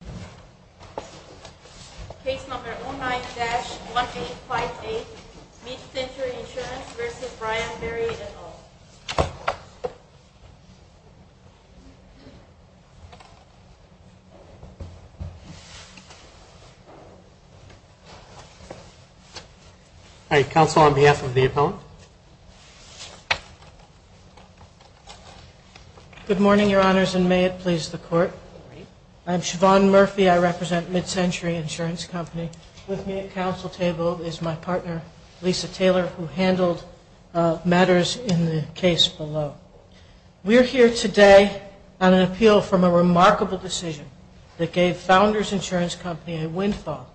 et al. Council on behalf of the appellant. Good morning, Your Honors, and may it please the Court. I'm Siobhan Murphy. I represent Mid-Century Insurance Company. With me at council table is my partner, Lisa Taylor, who handled matters in the case below. We're here today on an appeal from a remarkable decision that gave Founders Insurance Company a windfall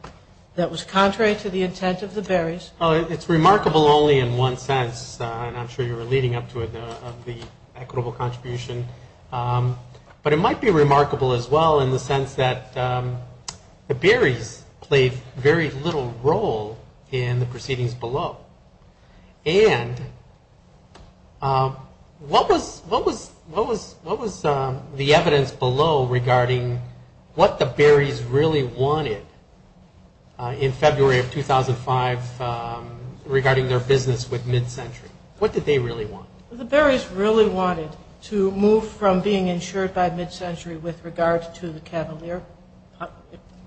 that was contrary to the intent of the Berries. It's remarkable only in one sense, and I'm sure you were leading up to it, of the equitable contribution. But it might be remarkable as well in the sense that the Berries played very little role in the proceedings below. And what was the evidence below regarding what the Berries really wanted in February of 2005 regarding their business with Mid-Century? What did they really want? The Berries really wanted to move from being insured by Mid-Century with regard to the Cavalier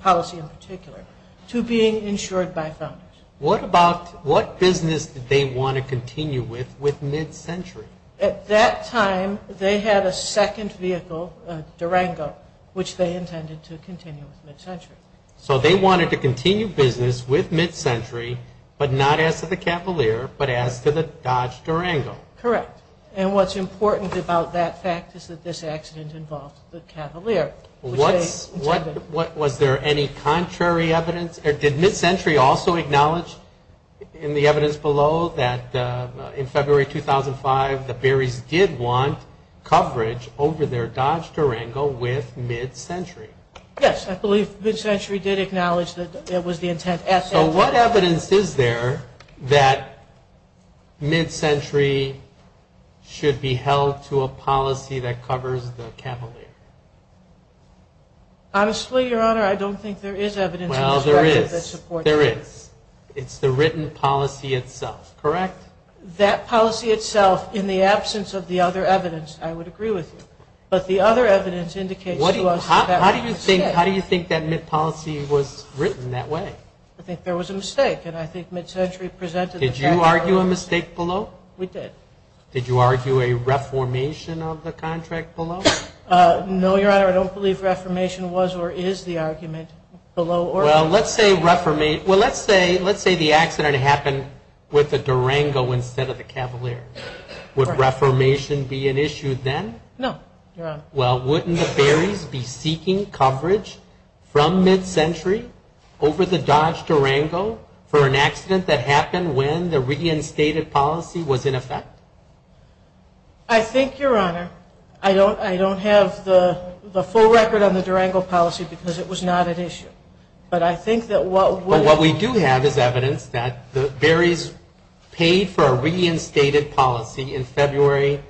policy in particular to being insured by Founders. What about, what business did they want to continue with with Mid-Century? At that time, they had a second vehicle, Durango, which they intended to continue with Mid-Century. So they wanted to continue business with Mid-Century, but not as to the Cavalier, but as to the Dodge Durango. Correct. And what's important about that fact is that this accident involved the Cavalier, which they intended. Was there any contrary evidence? Or did Mid-Century also acknowledge in the evidence below that in February 2005, the Berries did want coverage over their Dodge Durango with Mid-Century? Yes, I believe Mid-Century did acknowledge that that was the intent at that time. So what evidence is there that Mid-Century should be held to a policy that covers the Cavalier? Honestly, Your Honor, I don't think there is evidence in this record that supports that. Well, there is. It's the written policy itself, correct? That policy itself, in the absence of the other evidence, I would agree with you. But the other evidence indicates to us that that was the intent. How do you think that Mid-Policy was written that way? I think there was a mistake. And I think Mid-Century presented the fact that there was a mistake. Did you argue a mistake below? We did. Did you argue a reformation of the contract below? No, Your Honor. I don't believe reformation was or is the argument below or above. Well, let's say the accident happened with the Durango instead of the Cavalier. Would reformation be an issue then? No, Your Honor. Well, wouldn't the Berries be seeking coverage from Mid-Century over the Dodge Durango for an accident that happened when the reinstated policy was in effect? I think, Your Honor, I don't have the full record on the Durango policy, because it was not an issue. But I think that what would have... But what we do have is evidence that the Berries paid for a reinstated policy in February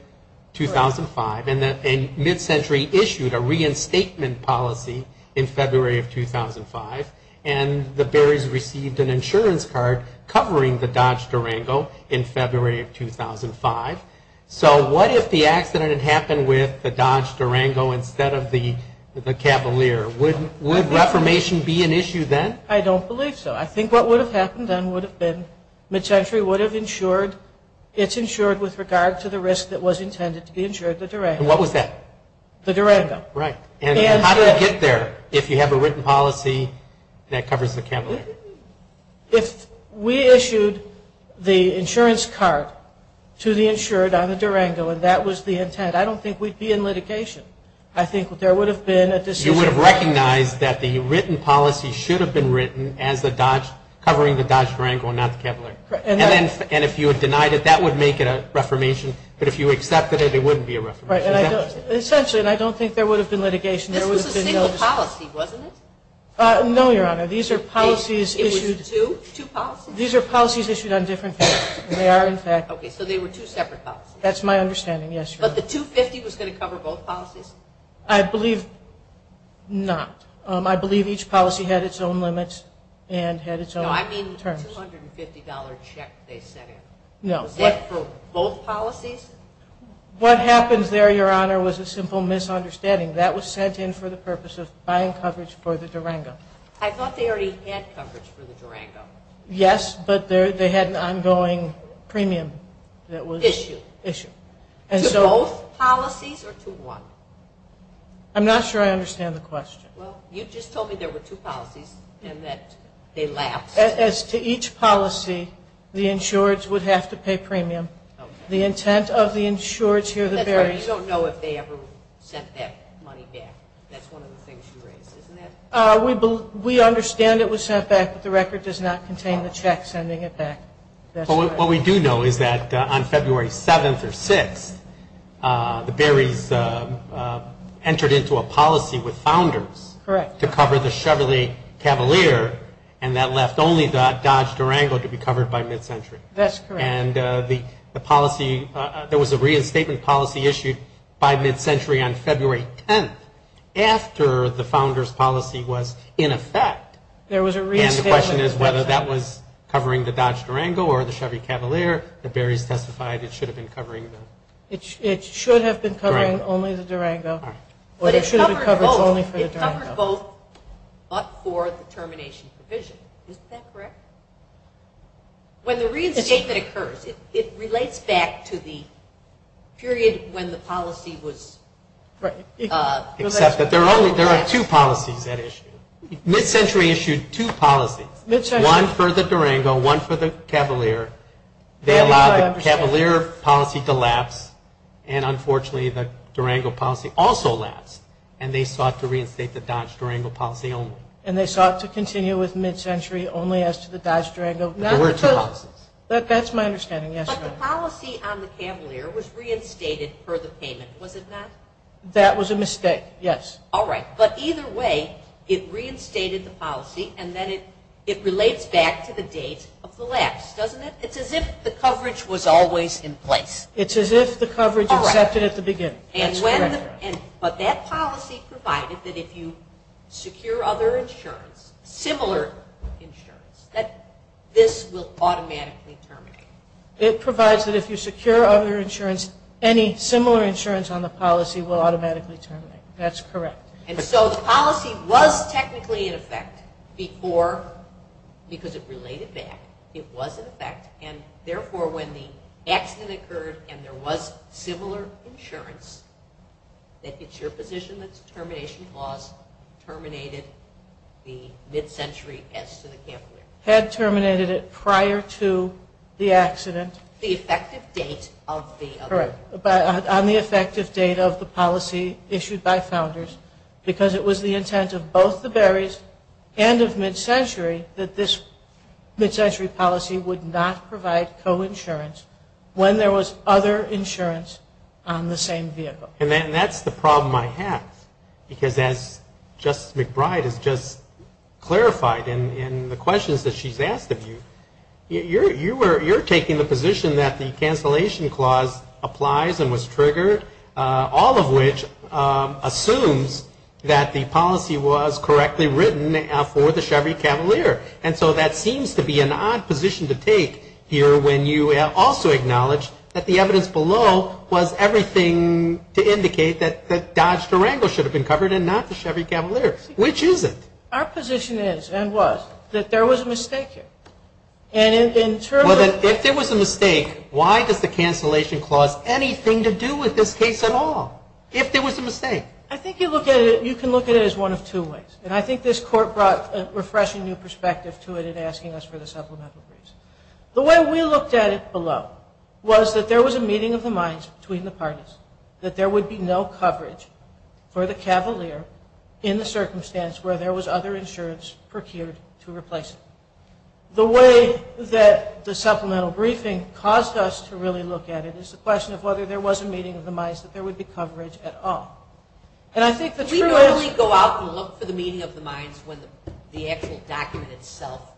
2005, and Mid-Century issued a reinstatement policy in February of 2005. And the Berries received an insurance card covering the Dodge Durango in February of 2005. So what if the accident had happened with the Dodge Durango instead of the Cavalier? Would reformation be an issue then? I don't believe so. I think what would have happened then would have been Mid-Century would have insured its insured with regard to the risk that was intended to be insured, the Durango. And what was that? The Durango. Right. And how do you get there if you have a written policy that covers the Cavalier? If we issued the insurance card to the insured on the Durango and that was the intent, I don't think we'd be in litigation. I think there would have been a decision... You would have recognized that the written policy should have been written as the Dodge, covering the Dodge Durango, not the Cavalier. Correct. And then, and if you had denied it, that would make it a reformation. But if you accepted it, it wouldn't be a reformation. Right. And I don't, essentially, and I don't think there would have been litigation. This was a single policy, wasn't it? No, Your Honor. These are policies issued... It was two? Two policies? These are policies issued on different pages. And they are, in fact... Okay. So they were two separate policies? That's my understanding. Yes, Your Honor. But the 250 was going to cover both policies? I believe not. I believe each policy had its own limits and had its own terms. No, I mean the $250 check they set in. No. Was it for both policies? What happens there, Your Honor, was a simple misunderstanding. That was sent in for the purpose of buying coverage for the Durango. I thought they already had coverage for the Durango. Yes, but they had an ongoing premium that was... Issue. Issue. And so... To both policies or to one? I'm not sure I understand the question. Well, you just told me there were two policies and that they lapsed. As to each policy, the insureds would have to pay premium. The intent of the insureds here... That's right. You don't know if they ever sent that money back. That's one of the things you raised, isn't it? We understand it was sent back, but the record does not contain the check sending it back. That's right. Well, what we do know is that on February 7th or 6th, the Barrys entered into a policy with founders... Correct. ...to cover the Chevrolet Cavalier, and that left only the Dodge Durango to be covered by mid-century. That's correct. And the policy, there was a reinstatement policy issued by mid-century on February 10th, after the founders' policy was in effect. There was a reinstatement... And the question is whether that was covering the Dodge Durango or the Chevy Cavalier. The Barrys testified it should have been covering them. It should have been covering only the Durango. All right. But it covered both. It should have been covered only for the Durango. It covered both, but for the termination provision. Isn't that correct? When the reinstatement occurs, it relates back to the period when the policy was... Right. Except that there are only, there are two policies that issue. Mid-century issued two policies. Mid-century. One for the Durango, one for the Cavalier. They allowed the Cavalier policy to lapse, and unfortunately, the Durango policy also lapsed, and they sought to reinstate the Dodge Durango policy only. And they sought to continue with mid-century only as to the Dodge Durango. There were two policies. That's my understanding, yes. But the policy on the Cavalier was reinstated for the payment, was it not? That was a mistake, yes. All right. But either way, it reinstated the policy, and then it relates back to the date of the lapse, doesn't it? It's as if the coverage was always in place. It's as if the coverage accepted at the beginning. That's correct. It provides that if you secure other insurance, similar insurance, that this will automatically terminate. It provides that if you secure other insurance, any similar insurance on the policy will automatically terminate. That's correct. And so the policy was technically in effect before, because it related back. It was in effect, and therefore, when the accident occurred and there was similar insurance, that it's your position that it's termination. The laws terminated the mid-century as to the Cavalier. Had terminated it prior to the accident. The effective date of the other. Correct, on the effective date of the policy issued by founders, because it was the intent of both the Berries and of mid-century that this mid-century policy would not provide co-insurance when there was other insurance on the same vehicle. And that's the problem I have, because as Justice McBride has just clarified in the questions that she's asked of you, you're taking the position that the cancellation clause applies and was triggered, all of which assumes that the policy was correctly written for the Chevrolet Cavalier. And so that seems to be an odd position to take here when you also acknowledge that the evidence below was everything to indicate that Dodge Durango should have been covered and not the Chevrolet Cavalier, which is it? Our position is and was that there was a mistake here. And in terms of... Well, if there was a mistake, why does the cancellation clause anything to do with this case at all, if there was a mistake? I think you look at it, you can look at it as one of two ways. And I think this court brought a refreshing new perspective to it in asking us for the supplemental briefs. The way we looked at it below was that there was a meeting of the minds between the parties, that there would be no coverage for the Cavalier in the circumstance where there was other insurance procured to replace it. The way that the supplemental briefing caused us to really look at it is the question of whether there was a meeting of the minds that there would be coverage at all. And I think the truth is... Do we normally go out and look for the meeting of the minds when the actual document itself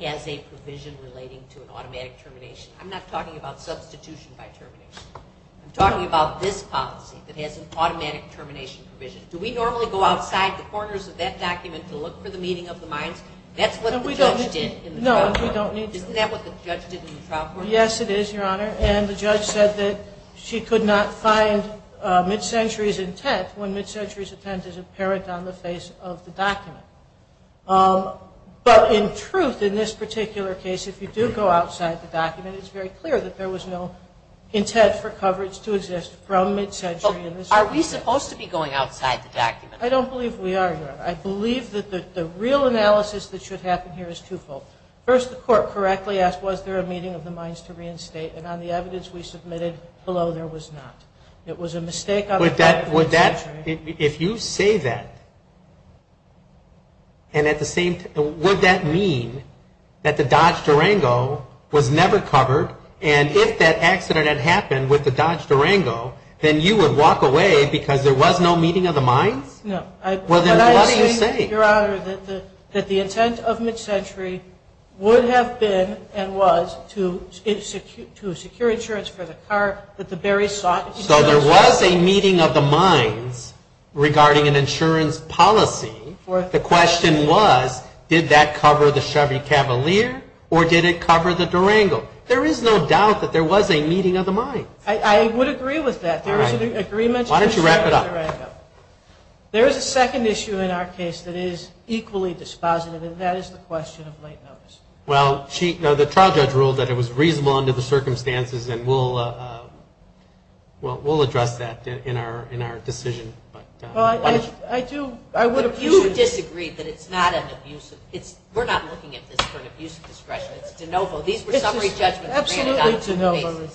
has a provision relating to an automatic termination? I'm not talking about substitution by termination. I'm talking about this policy that has an automatic termination provision. Do we normally go outside the corners of that document to look for the meeting of the minds? That's what the judge did in the trial court. Isn't that what the judge did in the trial court? Yes, it is, Your Honor. And the judge said that she could not find Mid-Century's intent when Mid-Century's intent is apparent on the face of the document. But in truth, in this particular case, if you do go outside the document, it's very clear that there was no intent for coverage to exist from Mid-Century in this particular case. Are we supposed to be going outside the document? I don't believe we are, Your Honor. I believe that the real analysis that should happen here is twofold. First, the court correctly asked, was there a meeting of the minds to reinstate? And on the evidence we submitted, below, there was not. It was a mistake on the part of Mid-Century. Would that, if you say that, and at the same time, would that mean that the Dodge Durango was never covered? And if that accident had happened with the Dodge Durango, then you would walk away because there was no meeting of the minds? No. Well, then what do you say? Your Honor, that the intent of Mid-Century would have been, and was, to secure insurance for the car that the Berries sought. So there was a meeting of the minds regarding an insurance policy. The question was, did that cover the Chevy Cavalier, or did it cover the Durango? There is no doubt that there was a meeting of the minds. I would agree with that. There is an agreement. Why don't you wrap it up? There is a second issue in our case that is equally dispositive, and that is the question of late notice. Well, the trial judge ruled that it was reasonable under the circumstances, and we'll address that in our decision. Well, I do, I would... You disagreed that it's not an abusive, we're not looking at this for an abusive discretion, it's de novo. These were summary judgments. Absolutely de novo.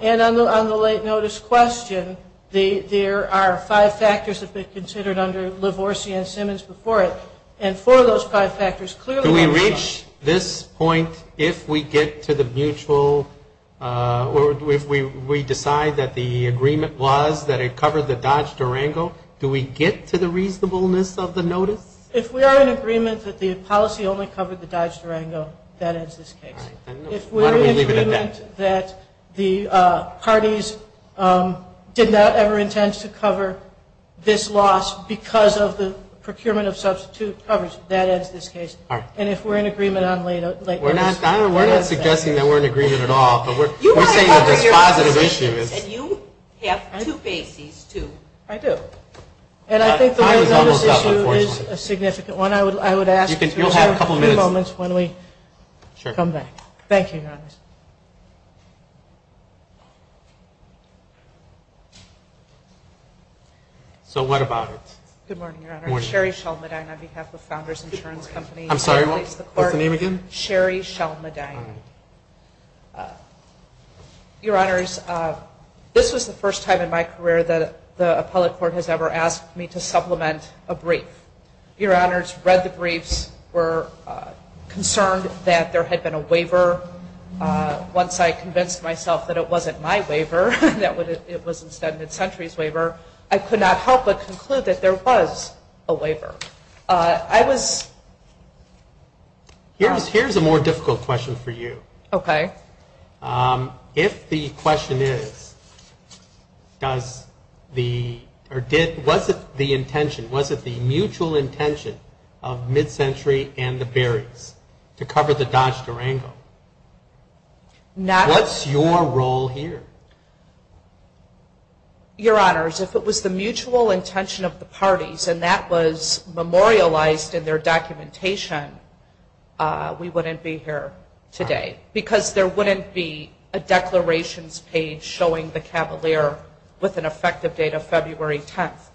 And on the late notice question, there are five factors that have been considered under Livorsi and Simmons before it, and for those five factors, clearly... Do we reach this point if we get to the mutual, or if we decide that the agreement was that it covered the Dodge Durango? Do we get to the reasonableness of the notice? If we are in agreement that the policy only covered the Dodge Durango, that ends this case. Why don't we leave it at that? If we are in agreement that the parties did not ever intend to cover this loss because of the procurement of substitute coverage, that ends this case. And if we're in agreement on late notice... We're not suggesting that we're in agreement at all, but we're saying that this positive issue is... You have two bases, too. I do. And I think the reasonableness issue is a significant one. I would ask to reserve a few moments when we come back. Thank you, Your Honor. So what about it? Good morning, Your Honor. Sherry Schell-Medine on behalf of Founders Insurance Company. I'm sorry, what's the name again? Sherry Schell-Medine. Your Honors, this was the first time in my career that the appellate court has ever asked me to supplement a brief. Your Honors, read the briefs, were concerned that there had been a waiver. Once I convinced myself that it wasn't my waiver, that it was instead mid-century's waiver, I could not help but conclude that there was a waiver. I was... Here's a more difficult question for you. Okay. If the question is, was it the intention, was it the mutual intention of mid-century and the Berries to cover the Dodge Durango? What's your role here? Your Honors, if it was the mutual intention of the parties and that was memorialized in their documentation, we wouldn't be here today. Because there wouldn't be a declarations page showing the Cavalier with an effective date of February 10th.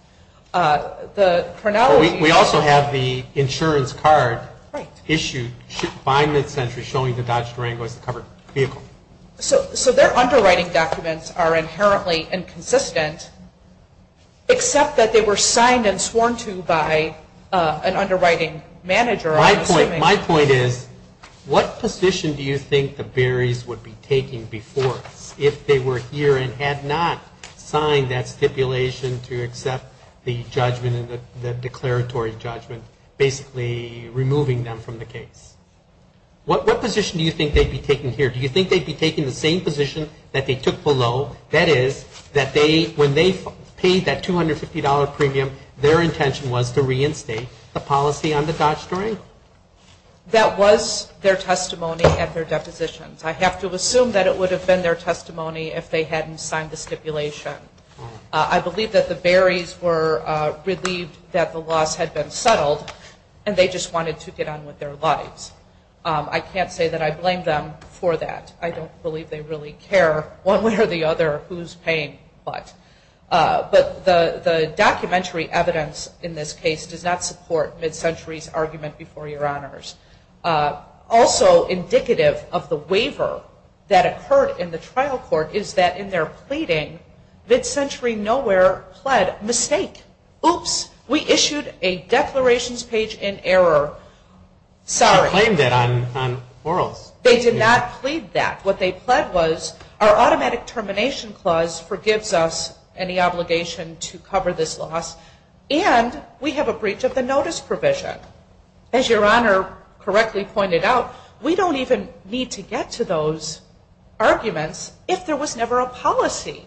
We also have the insurance card issued by mid-century showing the Dodge Durango as the covered vehicle. So their underwriting documents are inherently inconsistent, except that they were signed and sworn to by an underwriting manager. My point is, what position do you think the Berries would be taking before, if they were here and had not signed that stipulation to accept the judgment, the declaratory judgment, basically removing them from the case? What position do you think they'd be taking here? Do you think they'd be taking the same position that they took below? That is, that when they paid that $250 premium, their intention was to reinstate the policy on the Dodge Durango? That was their testimony at their depositions. I have to assume that it would have been their testimony if they hadn't signed the stipulation. I believe that the Berries were relieved that the loss had been settled, and they just wanted to get on with their lives. I can't say that I blame them for that. I don't believe they really care one way or the other who's paying what. But the documentary evidence in this case does not support mid-century's argument before your honors. Also indicative of the waiver that occurred in the trial court is that in their pleading, mid-century nowhere pled mistake. Oops, we issued a declarations page in error. Sorry. They claimed it on orals. They did not plead that. What they pled was our automatic termination clause forgives us any obligation to cover this loss, and we have a breach of the notice provision. As your honor correctly pointed out, we don't even need to get to those arguments if there was never a policy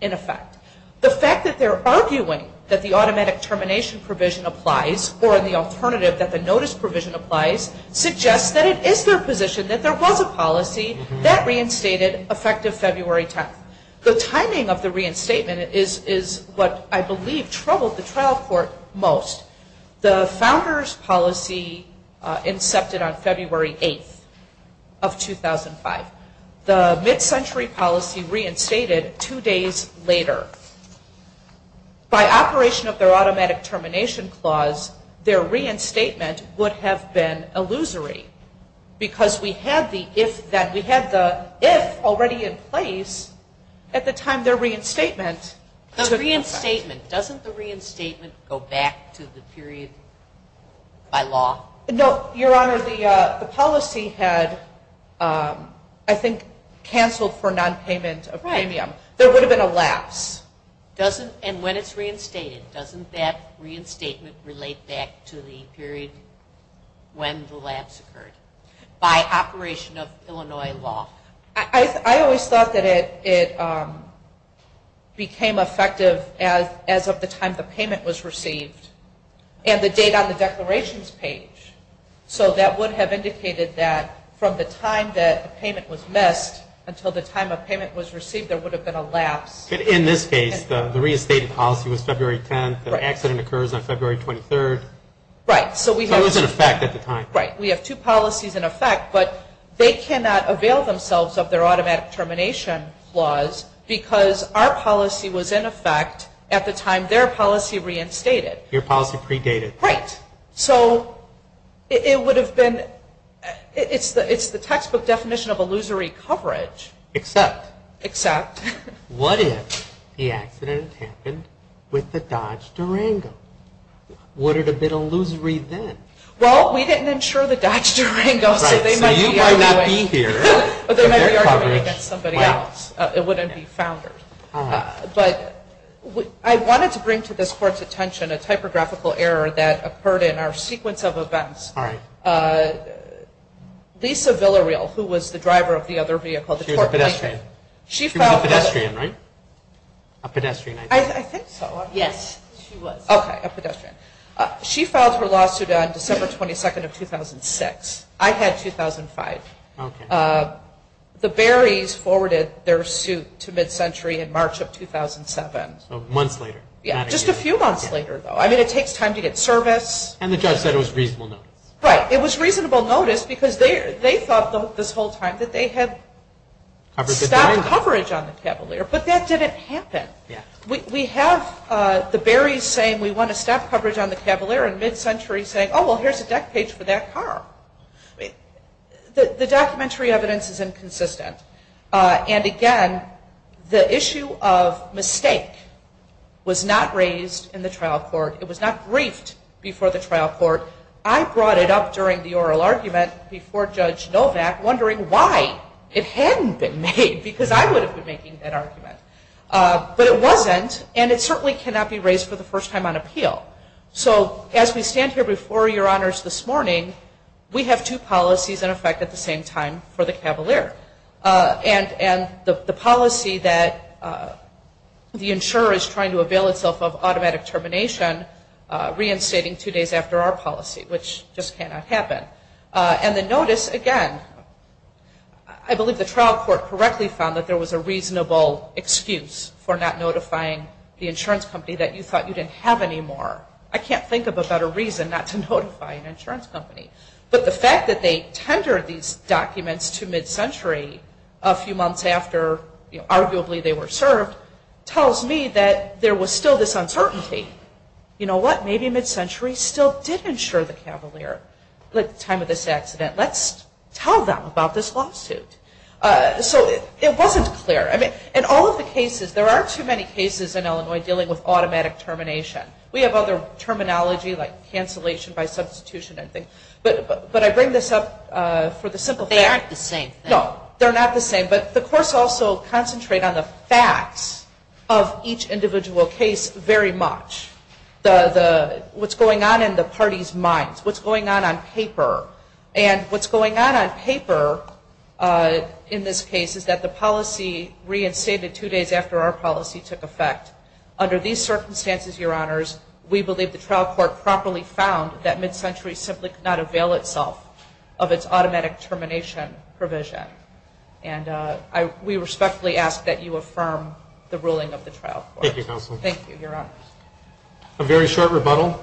in effect. The fact that they're arguing that the automatic termination provision applies, or the alternative that the notice provision applies, suggests that it is their position that there was a policy that reinstated effective February 10th. The timing of the reinstatement is what I believe troubled the trial court most. The founder's policy incepted on February 8th of 2005. The mid-century policy reinstated two days later. By operation of their automatic termination clause, their reinstatement would have been illusory because we had the if already in place at the time their reinstatement took effect. The reinstatement, doesn't the reinstatement go back to the period by law? No, your honor, the policy had, I think, canceled for nonpayment of premium. Right. There would have been a lapse. Doesn't, and when it's reinstated, doesn't that reinstatement relate back to the period when the lapse occurred? By operation of Illinois law. I always thought that it became effective as of the time the payment was received and the date on the declarations page. So that would have indicated that from the time that the payment was missed until the time a payment was received, there would have been a lapse. In this case, the reinstated policy was February 10th. The accident occurs on February 23rd. Right. So it was in effect at the time. Right. We have two policies in effect, but they cannot avail themselves of their automatic termination clause because our policy was in effect at the time their policy reinstated. Your policy predated. Right. So it would have been, it's the textbook definition of illusory coverage. Except. Except. What if the accident happened with the Dodge Durango? Would it have been illusory then? Well, we didn't insure the Dodge Durango, so they might be arguing. Right, so you might not be here. But they might be arguing against somebody else. It wouldn't be foundered. But I wanted to bring to this Court's attention a typographical error that occurred in our sequence of events. All right. Lisa Villarreal, who was the driver of the other vehicle, the Torpedo. She was a pedestrian, right? A pedestrian, I think. I think so. Yes, she was. Okay, a pedestrian. She filed her lawsuit on December 22nd of 2006. I had 2005. Okay. The Berries forwarded their suit to MidCentury in March of 2007. Months later. Just a few months later, though. I mean, it takes time to get service. And the judge said it was reasonable notice. Right. It was reasonable notice because they thought this whole time that they had stopped coverage on the Cavalier. But that didn't happen. We have the Berries saying we want to stop coverage on the Cavalier and MidCentury saying, oh, well, here's a deck page for that car. The documentary evidence is inconsistent. And, again, the issue of mistake was not raised in the trial court. It was not briefed before the trial court. I brought it up during the oral argument before Judge Novak wondering why it hadn't been made, because I would have been making that argument. But it wasn't, and it certainly cannot be raised for the first time on appeal. So as we stand here before your honors this morning, we have two policies in effect at the same time for the Cavalier. And the policy that the insurer is trying to avail itself of automatic termination reinstating two days after our policy, which just cannot happen. And the notice, again, I believe the trial court correctly found that there was a reasonable excuse for not notifying the insurer. I can't think of a better reason not to notify an insurance company. But the fact that they tendered these documents to MidCentury a few months after, you know, arguably they were served, tells me that there was still this uncertainty. You know what? Maybe MidCentury still did insure the Cavalier at the time of this accident. Let's tell them about this lawsuit. So it wasn't clear. I mean, in all of the cases, there are too many cases in Illinois dealing with automatic termination. We have other terminology like cancellation by substitution and things. But I bring this up for the simple fact. They aren't the same thing. No, they're not the same. But the courts also concentrate on the facts of each individual case very much. What's going on in the party's minds. What's going on on paper. And what's going on on paper in this case is that the policy reinstated two days after our policy took effect. Under these circumstances, Your Honors, we believe the trial court properly found that MidCentury simply could not avail itself of its automatic termination provision. And we respectfully ask that you affirm the ruling of the trial court. Thank you, Counsel. Thank you, Your Honors. A very short rebuttal.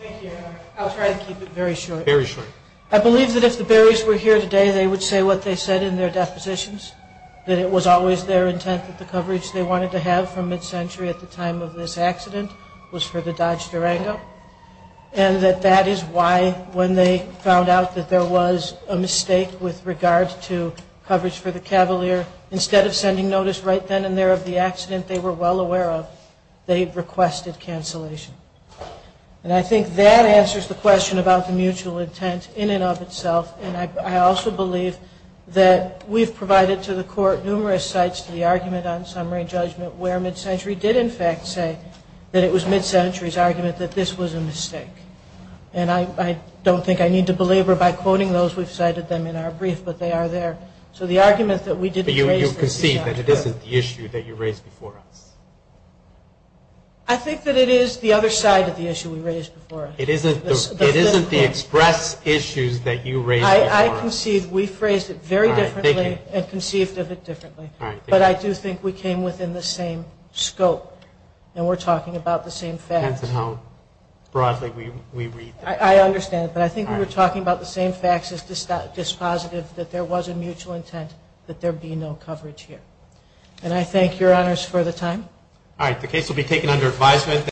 Thank you, Your Honor. I'll try to keep it very short. Very short. I believe that if the Berries were here today, they would say what they said in their depositions, that it was always their intent that the coverage they wanted to have from MidCentury at the time of this accident was for the Dodge Durango. And that that is why when they found out that there was a mistake with regard to coverage for the Cavalier, instead of sending notice right then and there of the accident they were well aware of, they requested cancellation. And I think that answers the question about the mutual intent in and of itself. And I also believe that we've provided to the court numerous sites to the argument on summary judgment where MidCentury did, in fact, say that it was MidCentury's argument that this was a mistake. And I don't think I need to belabor by quoting those. We've cited them in our brief, but they are there. So the argument that we didn't raise this afternoon. I concede that it isn't the issue that you raised before us. I think that it is the other side of the issue we raised before us. It isn't the express issues that you raised before us. I concede we phrased it very differently and conceived of it differently. But I do think we came within the same scope, and we're talking about the same facts. Depends on how broadly we read this. I understand. But I think we were talking about the same facts as dispositive that there was a mutual intent that there be no coverage here. And I thank your honors for the time. All right. The case will be taken under advisement.